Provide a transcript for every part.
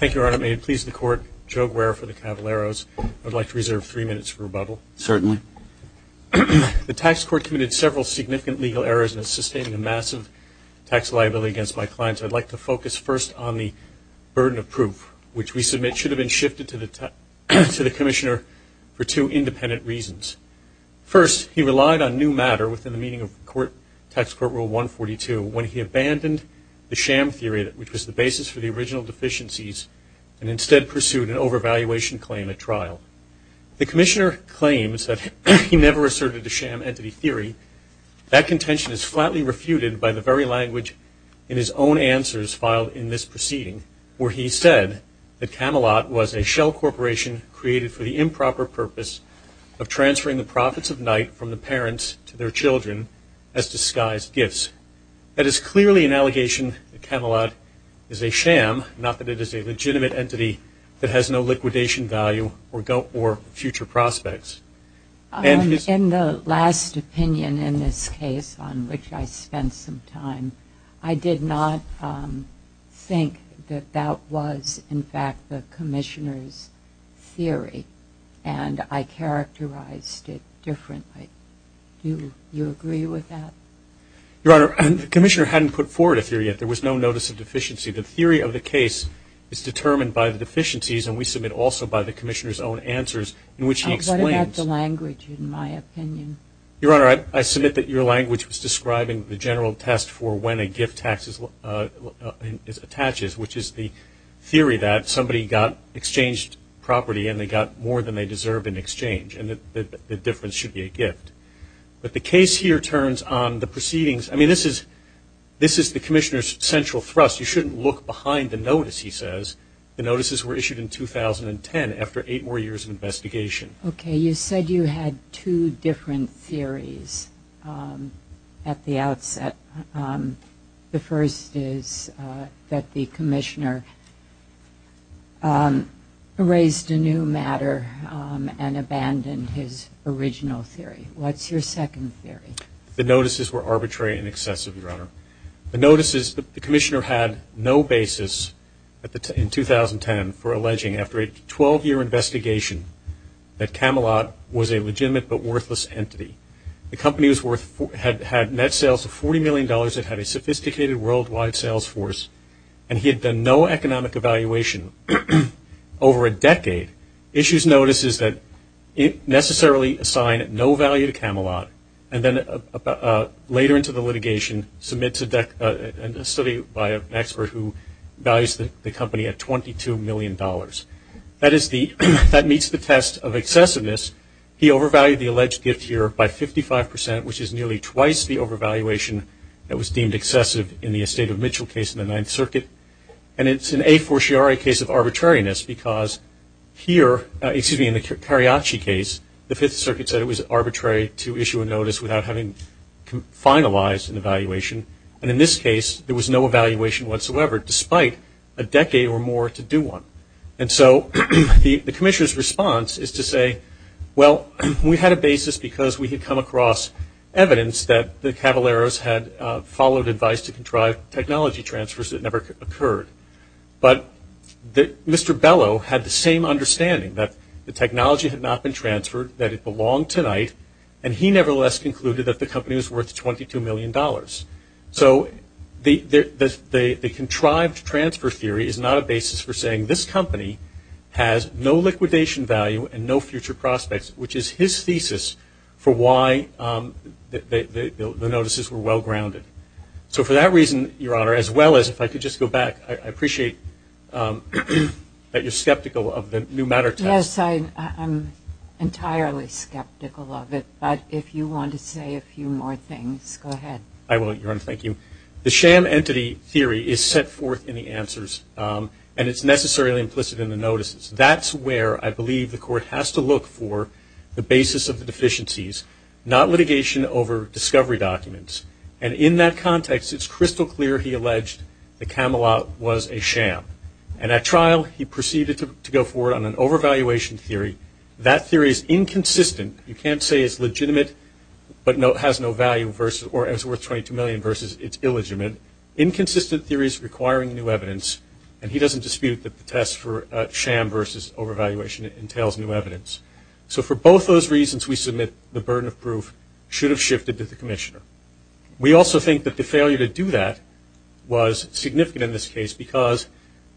The tax court committed several significant legal errors in sustaining a massive tax liability against my clients. I would like to focus first on the burden of proof, which we submit should have been shifted to the Commissioner for two independent reasons. First, he relied on new matter within the meaning of Tax Court Rule 142 when he abandoned the sham theory, which was the basis for the original deficiencies, and instead pursued an overvaluation claim at trial. The Commissioner claims that he never asserted the sham entity theory. That contention is flatly refuted by the very language in his own answers filed in this proceeding, where he said that Camelot was a shell corporation created for the improper purpose of transferring the profits of night from the parents to their children as disguised gifts. That is clearly an allegation that Camelot is a sham, not that it is a legitimate entity that has no liquidation value or future prospects. In the last opinion in this case, on which I spent some time, I did not think that that was, in fact, the Commissioner's theory, and I characterized it differently. Do you agree with that? Your Honor, the Commissioner hadn't put forward a theory yet. There was no notice of deficiency. The theory of the case is determined by the deficiencies, and we submit also by the Commissioner's own answers, in which he explains What about the language in my opinion? Your Honor, I submit that your language was describing the general test for when a gift tax is attached, which is the theory that somebody got exchanged property, and they got more than they deserve in exchange, and the difference should be a gift. But the case here turns on the proceedings. I mean, this is the Commissioner's central thrust. You shouldn't look behind the notice, he says. The notices were issued in 2010, after eight more years of investigation. Okay, you said you had two different theories at the outset. The first is that the Commissioner erased a new matter and abandoned his original theory. What's your second theory? The notices were arbitrary and excessive, Your Honor. The notices, the Commissioner had no basis in 2010 for alleging, after a 12-year investigation, that Camelot was a legitimate but worthless entity. The company had net sales of $40 million, it had a sophisticated worldwide sales force, and he had done no economic evaluation over a decade. Issues notices that necessarily assign no value to Camelot, and then later into the litigation, submits a study by an expert who values the company at $22 million. That meets the test of excessiveness. He overvalued the alleged gift here by 55%, which is nearly twice the overvaluation that was deemed excessive in the Estate of Mitchell case in the Ninth Circuit. And it's an a fortiori case of arbitrariness, because here, excuse me, in the Cariaci case, the Fifth Circuit said it was arbitrary to issue a notice without having finalized an evaluation, and in this case, there was no evaluation whatsoever, despite a decade or more to do one. And so, the Commissioner's response is to say, well, we had a basis because we had come across evidence that the Cavaleros had followed advice to contrive technology transfers that never occurred. But Mr. Bellow had the same understanding, that the technology had not been transferred, that it belonged tonight, and he nevertheless concluded that the company was worth $22 million. So, the contrived transfer theory is not a basis for saying this company has no liquidation value and no future prospects, which is his thesis for why the notices were well-grounded. So, for that reason, Your Honor, as well as, if I could just go back, I appreciate that you're skeptical of the new matter test. Yes, I'm entirely skeptical of it, but if you want to say a few more things, go ahead. I will, Your Honor. Thank you. The sham entity theory is set forth in the answers, and it's necessarily implicit in the notices. That's where I believe the Court has to look for the basis of the deficiencies, not litigation over discovery documents. And in that context, it's crystal clear he alleged the Camelot was a sham. And at trial, he proceeded to go forward on an overvaluation theory. That theory is inconsistent. You can't say it's legitimate but has no value or is worth $22 million versus it's illegitimate. Inconsistent theory is requiring new evidence, and he doesn't dispute that the test for sham versus overvaluation entails new evidence. So, for both those reasons, we submit the burden of proof should have shifted to the Commissioner. We also think that the failure to do that was significant in this case because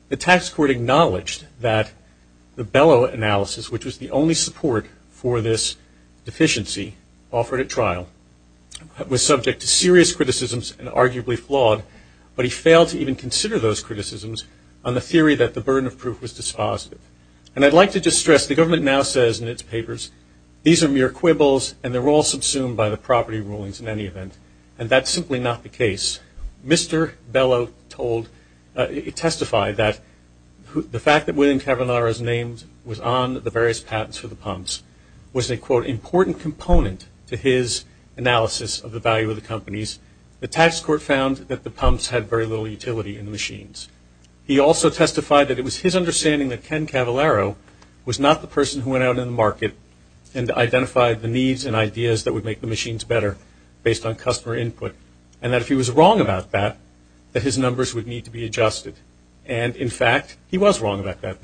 the tax court acknowledged that the Bellow analysis, which was the only support for this deficiency offered at trial, was subject to serious criticisms and arguably flawed, but he failed to even consider those criticisms on the theory that the burden of proof was dispositive. And I'd like to just stress, the government now says in its papers, these are mere quibbles, and they're all subsumed by the property rulings in any event. And that's simply not the case. Mr. Bellow testified that the fact that William Cavallaro's name was on the various patents for the pumps was an, quote, important component to his analysis of the value of the companies. The tax court found that the pumps had very little utility in the machines. He also testified that it was his understanding that Ken Cavallaro was not the person who went out in the market and identified the needs and ideas that would make the machines better based on customer input, and that if he was wrong about that, that his numbers would need to be adjusted. And in fact, he was wrong about that.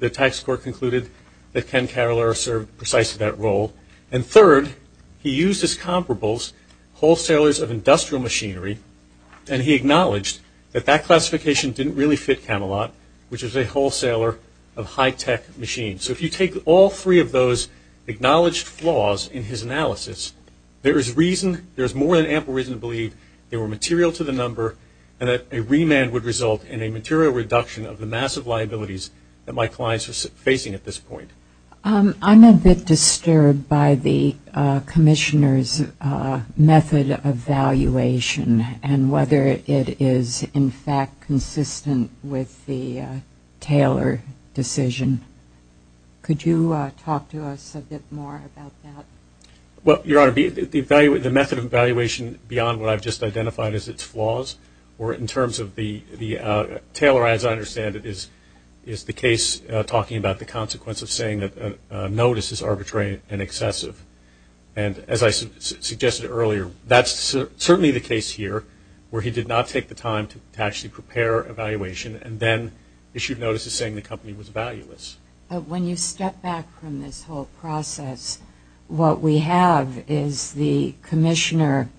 The tax court concluded that Ken Cavallaro served precisely that role. And third, he used as comparables wholesalers of industrial machinery, and he acknowledged that that classification didn't really fit Camelot, which is a wholesaler of high-tech machines. So if you take all three of those acknowledged flaws in his analysis, there is reason, there's more than ample reason to believe they were material to the number and that a remand would result in a material reduction of the massive liabilities that my clients are facing at this point. I'm a bit disturbed by the Commissioner's method of valuation and whether it is in fact consistent with the Taylor decision. Could you talk to us a bit more about that? Well, Your Honor, the method of evaluation beyond what I've just identified as its flaws, or in terms of the Taylor, as I understand it, is the case talking about the consequence of saying that a notice is arbitrary and excessive. And as I suggested earlier, that's certainly the case here where he did not take the time to actually prepare evaluation and then issued notices saying the company was valueless. When you step back from this whole process, what we have is the Commissioner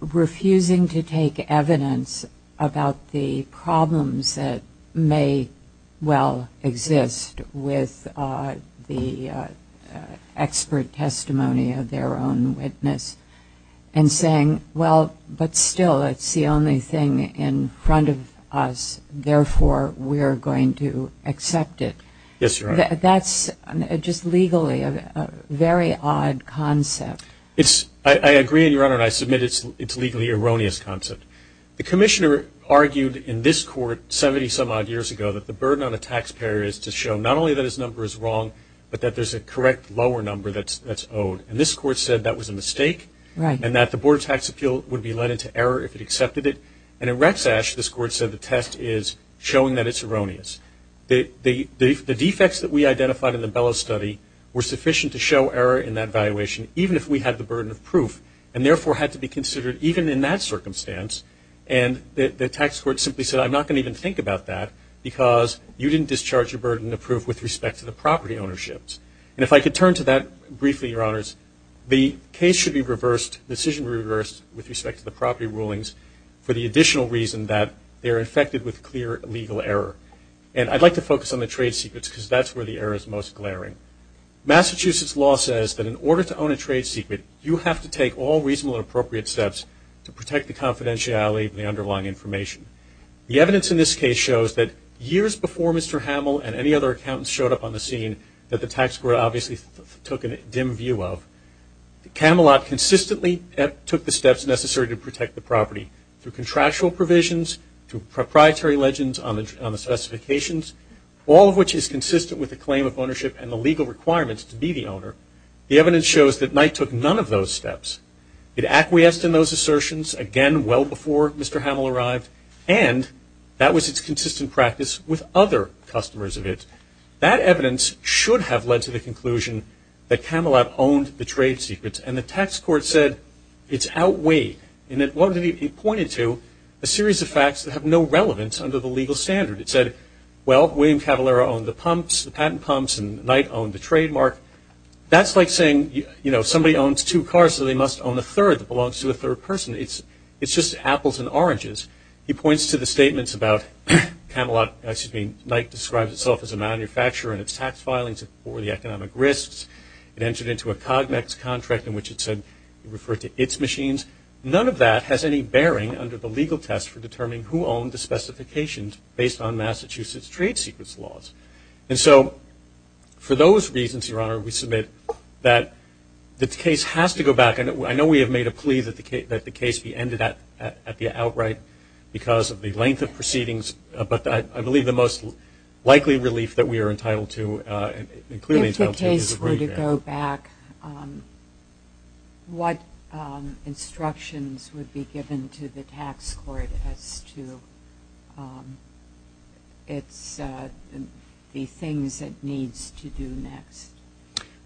refusing to take evidence about the problems that may well exist with the expert testimony of their own witness and saying, well, but still it's the only thing in front of us, therefore we are going to accept it. Yes, Your Honor. That's just legally a very odd concept. I agree, Your Honor, and I submit it's a legally erroneous concept. The Commissioner argued in this court 70 some odd years ago that the burden on a taxpayer is to show not only that his number is wrong, but that there's a correct lower number that's owed. And this court said that was a mistake and that the Board of Tax Appeals would be led into error if it accepted it. And in Rex Ashe, this court said the test is showing that it's erroneous. The defects that we identified in the Bellows study were sufficient to show error in that valuation, even if we had the burden of proof, and therefore had to be considered even in that circumstance. And the tax court simply said, I'm not going to even think about that because you didn't discharge a burden of proof with respect to the property ownerships. And if I could turn to that briefly, Your Honors, the case should be reversed, the decision reversed with respect to the property rulings for the additional reason that they are infected with clear legal error. And I'd like to focus on the trade secrets because that's where the error is most glaring. Massachusetts law says that in order to own a trade secret, you have to take all reasonable and appropriate steps to protect the confidentiality of the underlying information. The evidence in this case shows that years before Mr. Hamill and any other accountants showed up on the scene that the tax court obviously took a dim view of. Camelot consistently took the steps necessary to protect the property through contractual provisions, through proprietary legends on the specifications, all of which is consistent with the claim of ownership and the legal requirements to be the owner. The evidence shows that Knight took none of those steps. It acquiesced in those assertions, again, well before Mr. Hamill arrived, and that was its consistent practice with other customers of it. That evidence should have led to the conclusion that Camelot owned the trade secrets, and the tax court said it's outweighed in that it pointed to a series of facts that have no relevance under the legal standard. It said, well, William Cavallaro owned the pumps, the patent pumps, and Knight owned the trademark. That's like saying, you know, somebody owns two cars, so they must own the third that belongs to the third person. It's just apples and oranges. He points to the statements about Camelot, excuse me, Knight describes itself as a manufacturer and its tax filings were the economic risks. It entered into a Cognex contract in which it said it referred to its machines. None of that has any bearing under the legal test for determining who owned the specifications based on Massachusetts trade secrets laws. And so for those reasons, Your Honor, we submit that the case has to go back. I know we have made a plea that the case be ended at the outright because of the length of proceedings, but I believe the most likely relief that we are entitled to, and clearly entitled to, is a brief hearing. If the case were to go back, what instructions would be given to the tax court as to the things it needs to do next?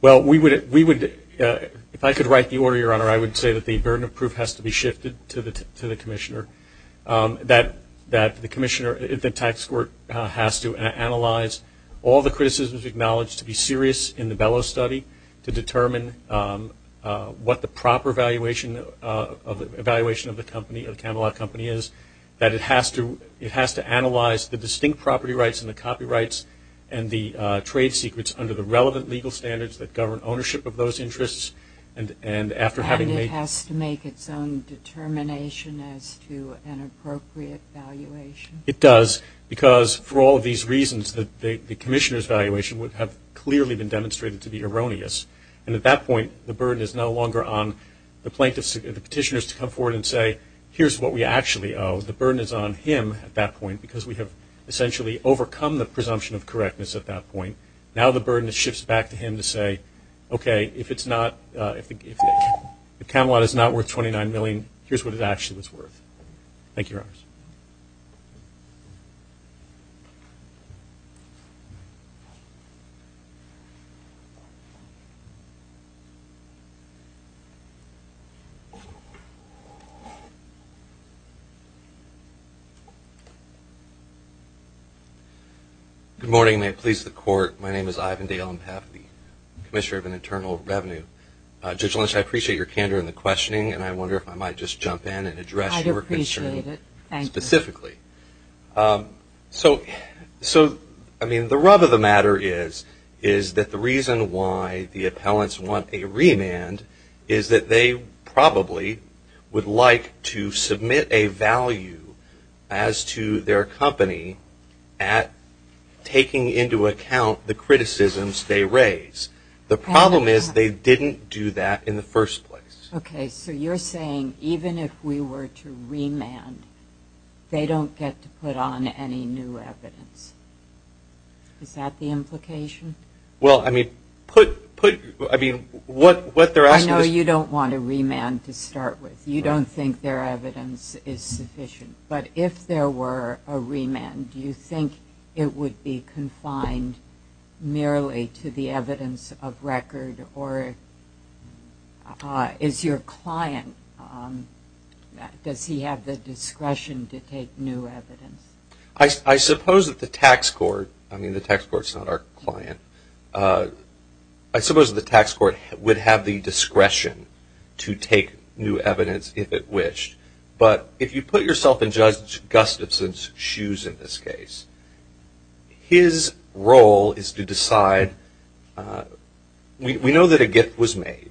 Well, we would, if I could write the order, Your Honor, I would say that the burden of proof has to be shifted to the commissioner. That the commissioner, the tax court, has to analyze all the criticisms acknowledged to be serious in the Bellows study to determine what the proper evaluation of the Camelot company is. That it has to analyze the distinct property rights and the copyrights and the trade secrets under the relevant legal standards that govern ownership of those interests. And it has to make its own determination as to an appropriate valuation? It does, because for all of these reasons, the commissioner's evaluation would have clearly been demonstrated to be erroneous. And at that point, the burden is no longer on the petitioners to come forward and say, here's what we actually owe. The burden is on him at that point, because we have essentially overcome the presumption of correctness at that point. Now the burden shifts back to him to say, OK, if Camelot is not worth $29 million, here's what it actually is worth. Thank you, Your Honors. Good morning, and may it please the Court. My name is Ivan Dale. I'm the Commissioner of Internal Revenue. Judge Lynch, I appreciate your candor in the questioning, and I wonder if I might just jump in and address your concern. I appreciate it. Thank you. Specifically. So, I mean, the rub of the matter is that the reason why the appellants want a remand is that they probably would like to submit a value as to their company at taking into account the criticisms they raise. The problem is they didn't do that in the first place. OK, so you're saying even if we were to remand, they don't get to put on any new evidence. Is that the implication? Well, I mean, put, I mean, what they're asking is... I know you don't want a remand to start with. You don't think their evidence is sufficient. But if there were a remand, do you think it would be confined merely to the evidence of your client? Does he have the discretion to take new evidence? I suppose that the tax court, I mean, the tax court is not our client, I suppose the tax court would have the discretion to take new evidence if it wished. But if you put yourself in Judge Gustafson's shoes in this case, his role is to decide, we know that a gift was made,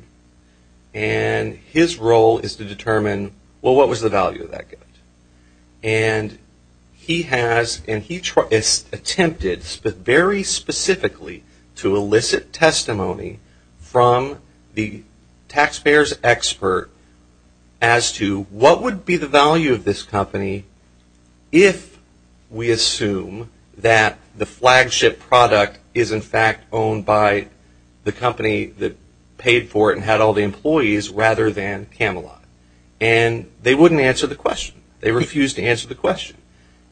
and his role is to determine, well, what was the value of that gift? And he has, and he attempted very specifically to elicit testimony from the taxpayer's expert as to what would be the value of this company if we assume that the flagship product is in fact owned by the company that paid for it and had all the employees rather than Camelot. And they wouldn't answer the question. They refused to answer the question.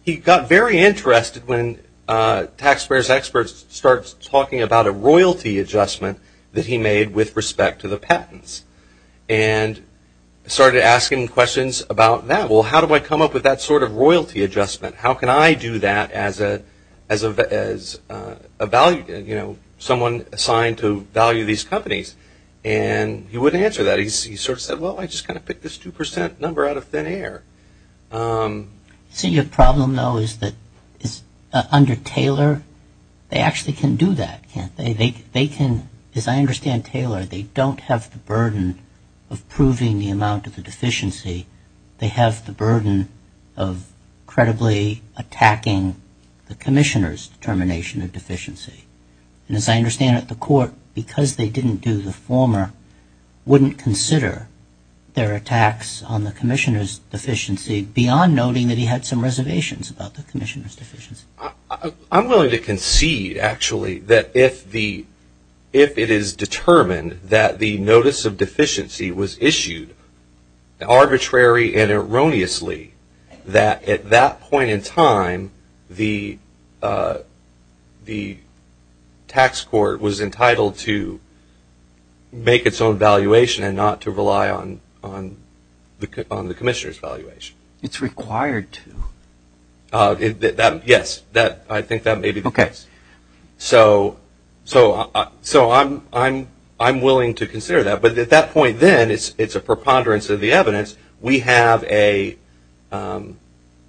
He got very interested when taxpayers' experts started talking about a royalty adjustment that he made with respect to the patents and started asking questions about that. Well, how do I come up with that sort of royalty adjustment? How can I do that as a value, you know, someone assigned to value these companies? And he wouldn't answer that. He sort of said, well, I just kind of picked this 2 percent number out of thin air. So your problem, though, is that under Taylor, they actually can do that, can't they? They can, as I understand Taylor, they don't have the burden of proving the amount of the deficiency. They have the burden of credibly attacking the commissioner's determination of deficiency. And as I understand it, the court, because they didn't do the former, wouldn't consider their attacks on the commissioner's deficiency beyond noting that he had some reservations about the commissioner's deficiency. I'm willing to concede, actually, that if the if it is determined that the notice of contrary and erroneously that at that point in time, the tax court was entitled to make its own valuation and not to rely on the commissioner's valuation. It's required to. Yes, I think that may be the case. So I'm willing to consider that. But at that point then, it's a preponderance of the evidence. We have a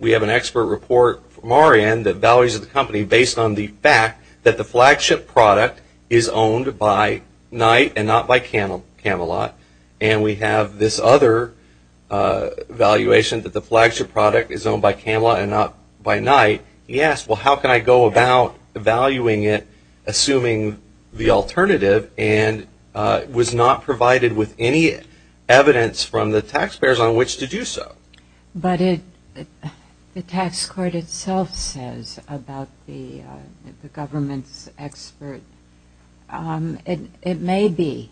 we have an expert report from Orion that values the company based on the fact that the flagship product is owned by Knight and not by Camelot. And we have this other valuation that the flagship product is owned by Camelot and not by Knight. Yes, well, how can I go about valuing it, assuming the alternative and was not provided with any evidence from the taxpayers on which to do so? But the tax court itself says about the government's expert, it may be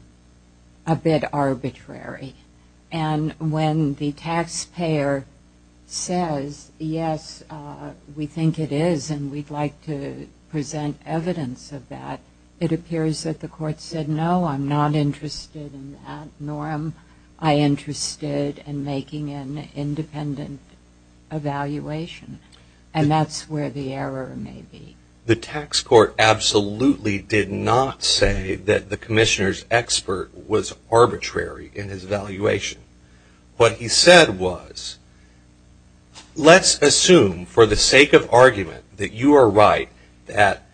a bit arbitrary. And when the taxpayer says, yes, we think it is and we'd like to present evidence of that, it appears that the court said, no, I'm not interested in that norm. I'm interested in making an independent evaluation. And that's where the error may be. The tax court absolutely did not say that the commissioner's expert was arbitrary in his valuation. What he said was, let's assume for the sake of argument that you are right that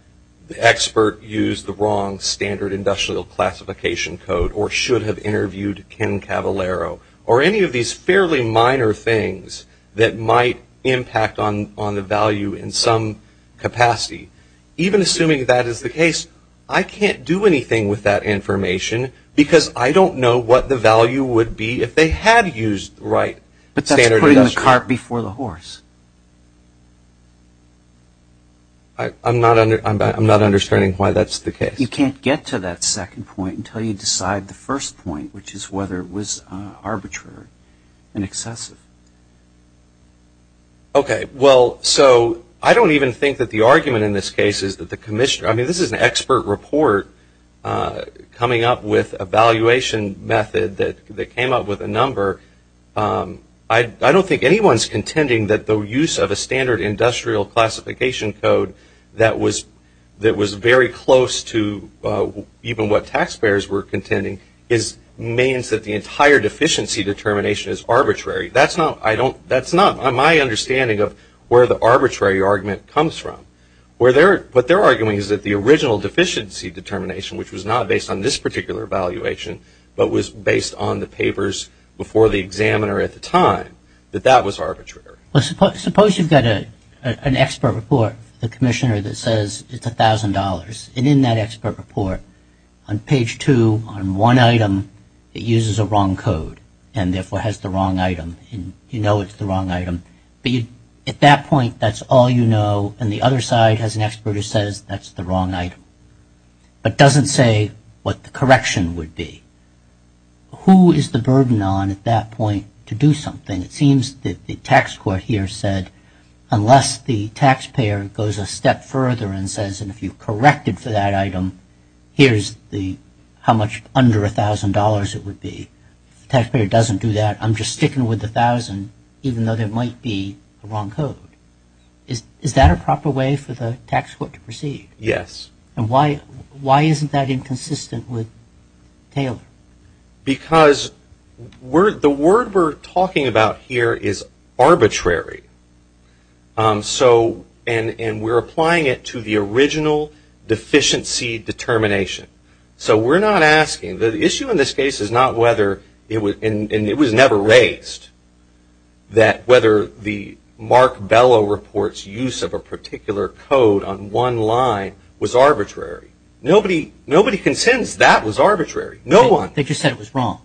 the expert used the wrong Standard Industrial Classification Code or should have interviewed Ken Cavallaro or any of these fairly minor things that might impact on the value in some capacity. Even assuming that is the case, I can't do anything with that information because I don't know what the value would be if they had used the right Standard Industrial Classification Card before the horse. I'm not understanding why that's the case. You can't get to that second point until you decide the first point, which is whether it was arbitrary and excessive. Okay. Well, so I don't even think that the argument in this case is that the commissioner I mean, this is an expert report coming up with a valuation method that came up with a number. I don't think anyone's contending that the use of a Standard Industrial Classification Code that was very close to even what taxpayers were contending means that the entire deficiency determination is arbitrary. That's not my understanding of where the arbitrary argument comes from. What they're arguing is that the original deficiency determination, which was not based on this particular valuation, but was based on the papers before the examiner at the time, that that was arbitrary. Well, suppose you've got an expert report, the commissioner that says it's $1,000, and in that expert report, on page two, on one item, it uses a wrong code, and therefore has the wrong item, and you know it's the wrong item. At that point, that's all you know, and the other side has an expert who says that's the wrong item, but doesn't say what the correction would be. Who is the burden on, at that point, to do something? It seems that the tax court here said, unless the taxpayer goes a step further and says, and if you corrected for that item, here's how much under $1,000 it would be. If the taxpayer doesn't do that, I'm just sticking with $1,000, even though there might be a wrong code. Is that a proper way for the tax court to proceed? Yes. And why isn't that inconsistent with Taylor? Because the word we're talking about here is arbitrary, and we're applying it to the original deficiency determination. So we're not asking, the issue in this case is not whether, and it was never raised, that whether the Mark Bellow report's use of a particular code on one line was arbitrary. Nobody consents that was arbitrary. No one. They just said it was wrong.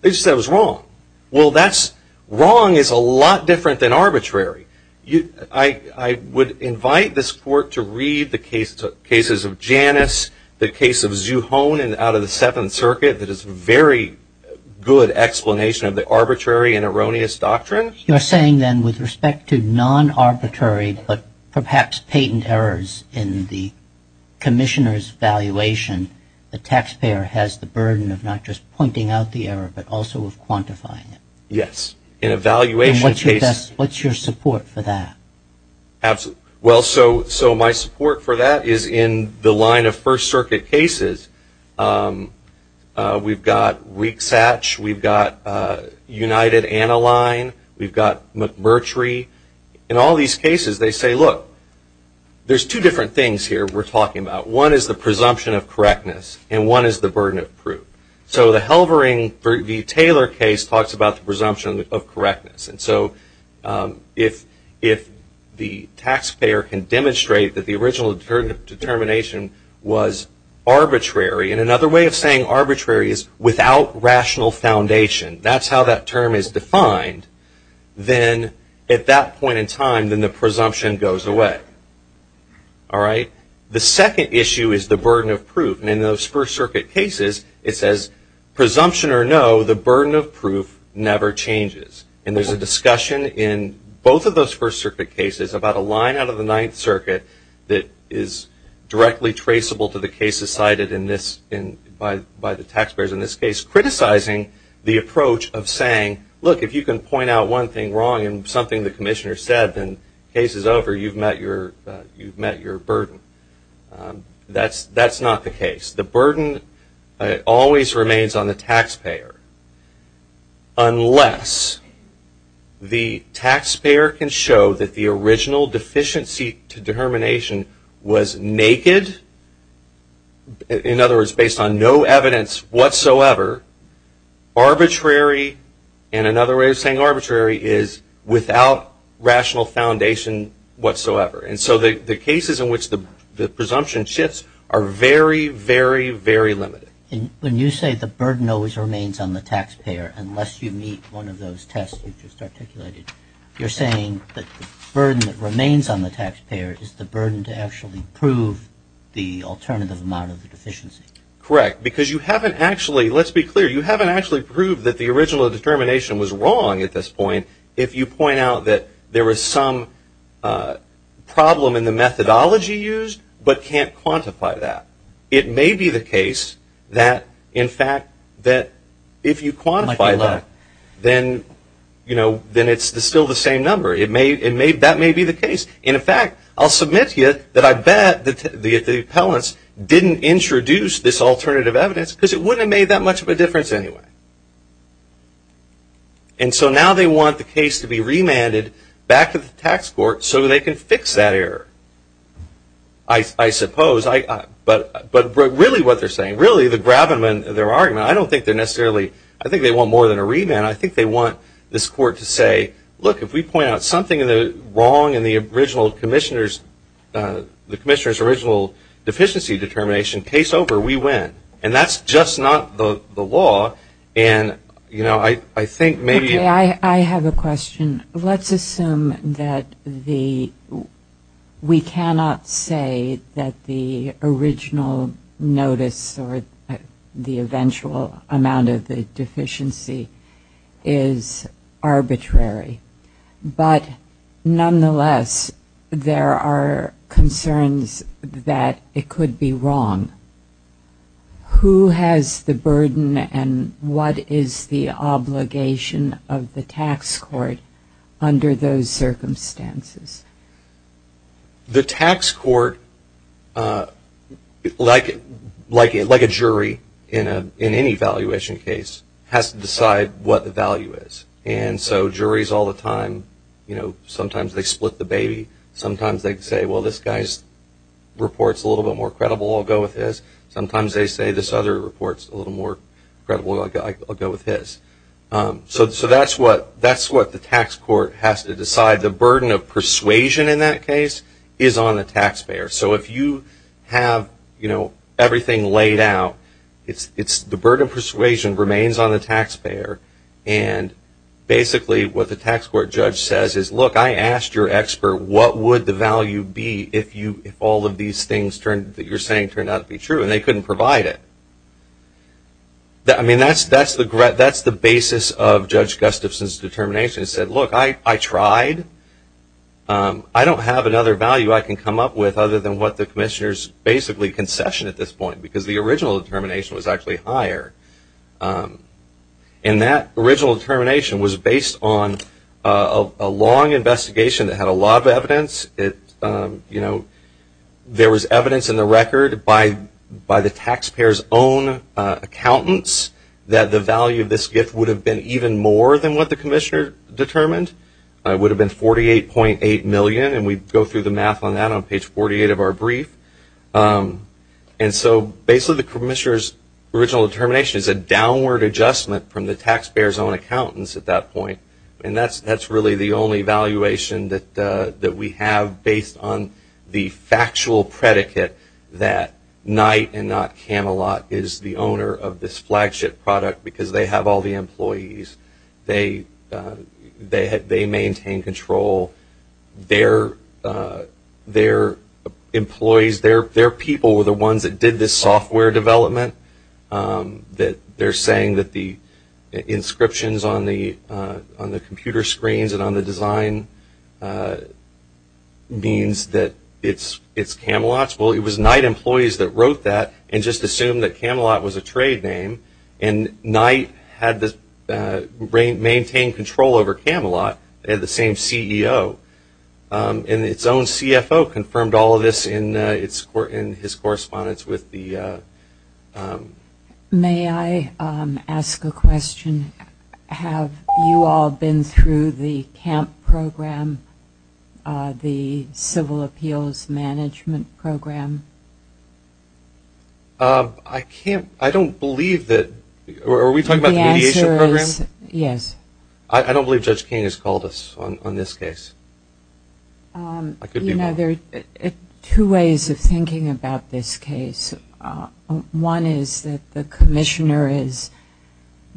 They just said it was wrong. Well, that's, wrong is a lot different than arbitrary. I would invite this court to read the cases of Janus, the case of Zuhonin out of the Seventh Circuit that is a very good explanation of the arbitrary and erroneous doctrine. You're saying, then, with respect to non-arbitrary, but perhaps patent errors in the commissioner's valuation, the taxpayer has the burden of not just pointing out the error, but also of quantifying it. Yes. In a valuation case. And what's your support for that? Absolutely. Well, so my support for that is in the line of First Circuit cases. We've got Weak-Satch, we've got United-Aniline, we've got McMurtry. In all these cases, they say, look, there's two different things here we're talking about. One is the presumption of correctness, and one is the burden of proof. So the Helvering v. Taylor case talks about the presumption of correctness. And so if the taxpayer can demonstrate that the original determination was arbitrary, and another way of saying arbitrary is without rational foundation, that's how that term is defined, then at that point in time, then the presumption goes away. The second issue is the burden of proof, and in those First Circuit cases, it says, presumption or no, the burden of proof never changes. And there's a discussion in both of those First Circuit cases about a line out of the Ninth Circuit that is directly traceable to the cases cited in this, by the taxpayers in this case, criticizing the approach of saying, look, if you can point out one thing wrong in something the commissioner said, then the case is over, you've met your burden. That's not the case. The burden always remains on the taxpayer, unless the taxpayer can show that the original deficiency to determination was naked, in other words, based on no evidence whatsoever, arbitrary, and another way of saying arbitrary is without rational foundation whatsoever. And so the cases in which the presumption shifts are very, very, very limited. When you say the burden always remains on the taxpayer, unless you meet one of those tests you just articulated, you're saying that the burden that remains on the taxpayer is the burden to actually prove the alternative amount of the deficiency. Correct. Because you haven't actually, let's be clear, you haven't actually proved that the original problem in the methodology used, but can't quantify that. It may be the case that, in fact, that if you quantify that, then it's still the same number. That may be the case. And in fact, I'll submit to you that I bet the appellants didn't introduce this alternative evidence because it wouldn't have made that much of a difference anyway. And so now they want the case to be remanded back to the tax court so they can fix that error, I suppose. But really what they're saying, really, the gravamen of their argument, I don't think they're necessarily, I think they want more than a remand. I think they want this court to say, look, if we point out something wrong in the original commissioner's, the commissioner's original deficiency determination, case over, we win. And that's just not the law. And you know, I think maybe- Okay. I have a question. Let's assume that the, we cannot say that the original notice or the eventual amount of the deficiency is arbitrary, but nonetheless, there are concerns that it could be wrong. Who has the burden and what is the obligation of the tax court under those circumstances? The tax court, like a jury in any valuation case, has to decide what the value is. And so juries all the time, you know, sometimes they split the baby. Sometimes they say, well, this guy's report's a little bit more credible, I'll go with his. Sometimes they say this other report's a little more credible, I'll go with his. So that's what the tax court has to decide. The burden of persuasion in that case is on the taxpayer. So if you have, you know, everything laid out, it's the burden of persuasion remains on the taxpayer. And basically what the tax court judge says is, look, I asked your expert, what would the value be if all of these things that you're saying turned out to be true? And they couldn't provide it. I mean, that's the basis of Judge Gustafson's determination. He said, look, I tried. I don't have another value I can come up with other than what the commissioner's basically concession at this point, because the original determination was actually higher. And that original determination was based on a long investigation that had a lot of evidence. It, you know, there was evidence in the record by the taxpayer's own accountants that the value of this gift would have been even more than what the commissioner determined. It would have been $48.8 million, and we go through the math on that on page 48 of our brief. And so basically the commissioner's original determination is a downward adjustment from the taxpayer's own accountants at that point. And that's really the only valuation that we have based on the factual predicate that Knight and not Camelot is the owner of this flagship product because they have all the employees. Their people were the ones that did this software development. They're saying that the inscriptions on the computer screens and on the design means that it's Camelot's. Well, it was Knight employees that wrote that and just assumed that Camelot was a trade name. And Knight had maintained control over Camelot and the same CEO. And its own CFO confirmed all of this in his correspondence with the... May I ask a question? Have you all been through the CAMP program, the Civil Appeals Management program? I can't, I don't believe that, are we talking about the mediation program? Yes. I don't believe Judge King has called us on this case. You know, there are two ways of thinking about this case. One is that the commissioner is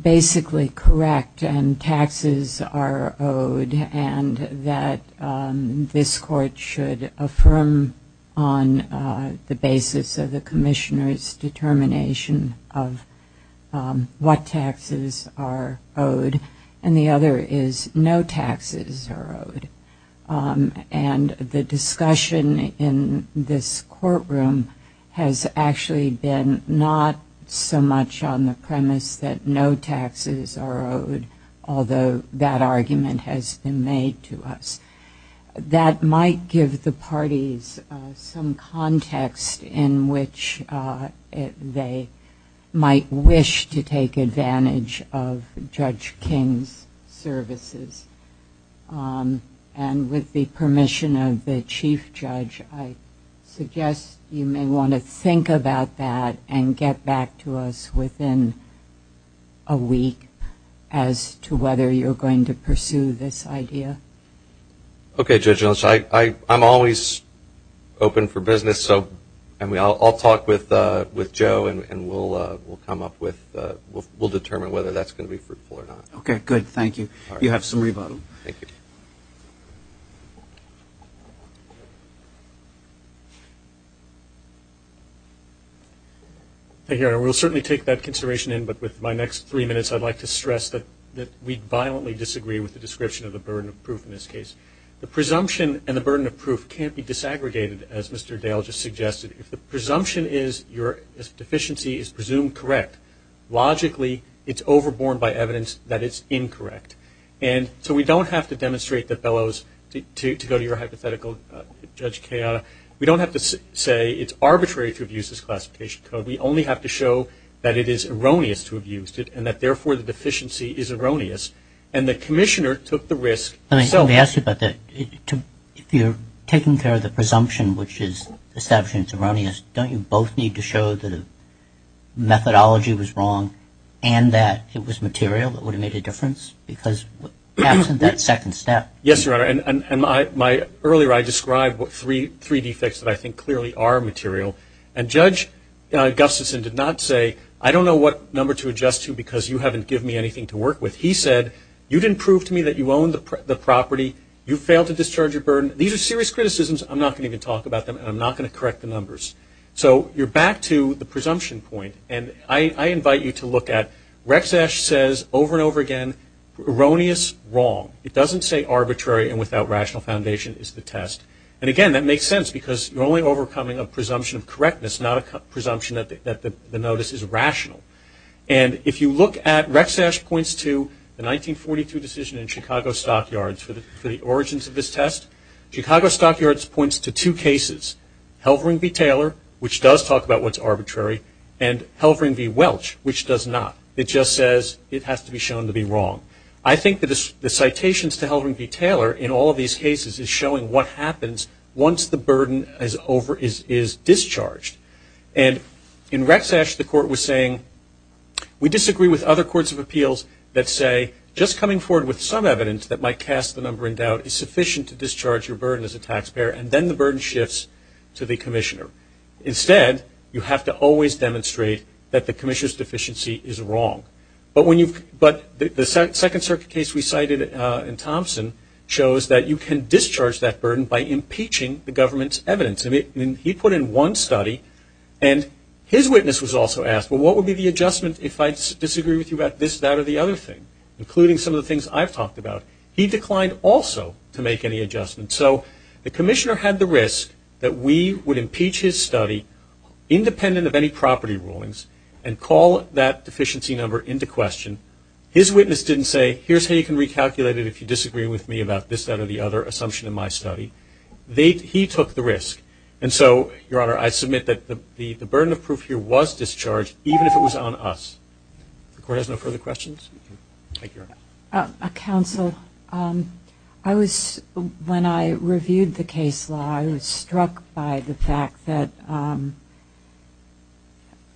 basically correct and taxes are owed and that this court should affirm on the basis of the commissioner's determination of what taxes are owed. And the other is no taxes are owed. And the discussion in this courtroom has actually been not so much on the premise that no taxes are owed, although that argument has been made to us. That might give the parties some context in which they might wish to take advantage of Judge King's services. And with the permission of the Chief Judge, I suggest you may want to think about that and get back to us within a week as to whether you're going to pursue this idea. Okay, Judge Ellis. I'm always open for business, so I'll talk with Joe and we'll come up with, we'll determine whether that's going to be fruitful or not. Okay, good. Thank you. You have some rebuttal. Thank you. Thank you, Your Honor. We'll certainly take that consideration in, but with my next three minutes, I'd like to stress that we violently disagree with the description of the burden of proof in this case. The presumption and the burden of proof can't be disaggregated, as Mr. Dale just suggested. If the presumption is your deficiency is presumed correct, logically it's overborne by evidence that it's incorrect. And so we don't have to demonstrate the bellows to go to your hypothetical, Judge Kea. We don't have to say it's arbitrary to abuse this classification code. We only have to show that it is erroneous to abuse it and that, therefore, the deficiency is erroneous. And the commissioner took the risk. Let me ask you about that. If you're taking care of the presumption, which is establishing it's erroneous, don't you both need to show that the methodology was wrong and that it was material that would have made a difference? Because that's that second step. Yes, Your Honor. And earlier I described what three defects that I think clearly are material. And Judge Gustafson did not say, I don't know what number to adjust to because you haven't given me anything to work with. He said, you didn't prove to me that you own the property. You failed to discharge your burden. These are serious criticisms. I'm not going to even talk about them and I'm not going to correct the numbers. So you're back to the presumption point. And I invite you to look at Rex Esch says over and over again, erroneous, wrong. It doesn't say arbitrary and without rational foundation is the test. And again, that makes sense because you're only overcoming a presumption of correctness, not a presumption that the notice is rational. And if you look at, Rex Esch points to the 1942 decision in Chicago Stockyards for the origins of this test. Chicago Stockyards points to two cases, Helvering v. Taylor, which does talk about what's arbitrary, and Helvering v. Welch, which does not. It just says it has to be shown to be wrong. I think the citations to Helvering v. Taylor in all of these cases is showing what happens once the burden is discharged. And in Rex Esch the court was saying, we disagree with other courts of appeals that say just coming forward with some evidence that might cast the number in doubt is sufficient to discharge your burden as a taxpayer and then the burden shifts to the commissioner. Instead, you have to always demonstrate that the commissioner's deficiency is wrong. But the Second Circuit case we cited in Thompson shows that you can discharge that burden by impeaching the government's evidence. He put in one study and his witness was also asked, well, what would be the adjustment if I disagree with you about this, that, or the other thing, including some of the things I've talked about? He declined also to make any adjustment. So the commissioner had the risk that we would impeach his study independent of any property rulings and call that deficiency number into question. His witness didn't say, here's how you can recalculate it if you disagree with me about this, that, or the other assumption in my study. He took the risk. And so, Your Honor, I submit that the burden of proof here was discharged, even if it was on us. The court has no further questions? Thank you, Your Honor. Counsel, when I reviewed the case law, I was struck by the fact that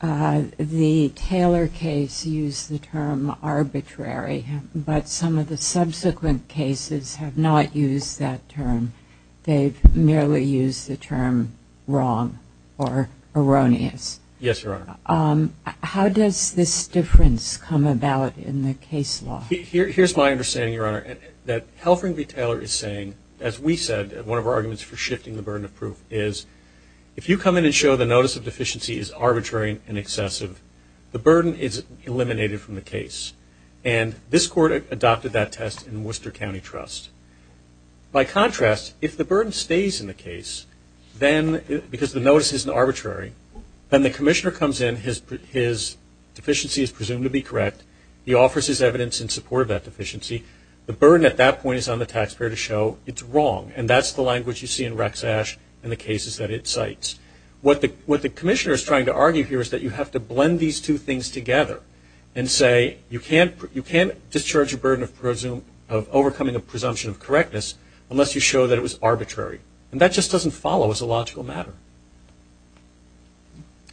the Taylor case used the term arbitrary, but some of the subsequent cases have not used that term. They've merely used the term wrong or erroneous. Yes, Your Honor. How does this difference come about in the case law? Here's my understanding, Your Honor, that Helfring v. Taylor is saying, as we said at one of our arguments for shifting the burden of proof, is if you come in and show the notice of deficiency is arbitrary and excessive, the burden is eliminated from the case. And this court adopted that test in Worcester County Trust. By contrast, if the burden stays in the case, because the notice isn't arbitrary, then the commissioner comes in, his deficiency is presumed to be correct, he offers his evidence in support of that deficiency, the burden at that point is on the taxpayer to show it's wrong. And that's the language you see in Rex Ashe and the cases that it cites. What the commissioner is trying to argue here is that you have to blend these two things together and say you can't discharge a burden of overcoming a presumption of correctness unless you show that it was arbitrary. And that just doesn't follow as a logical matter.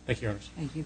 Thank you, Your Honor.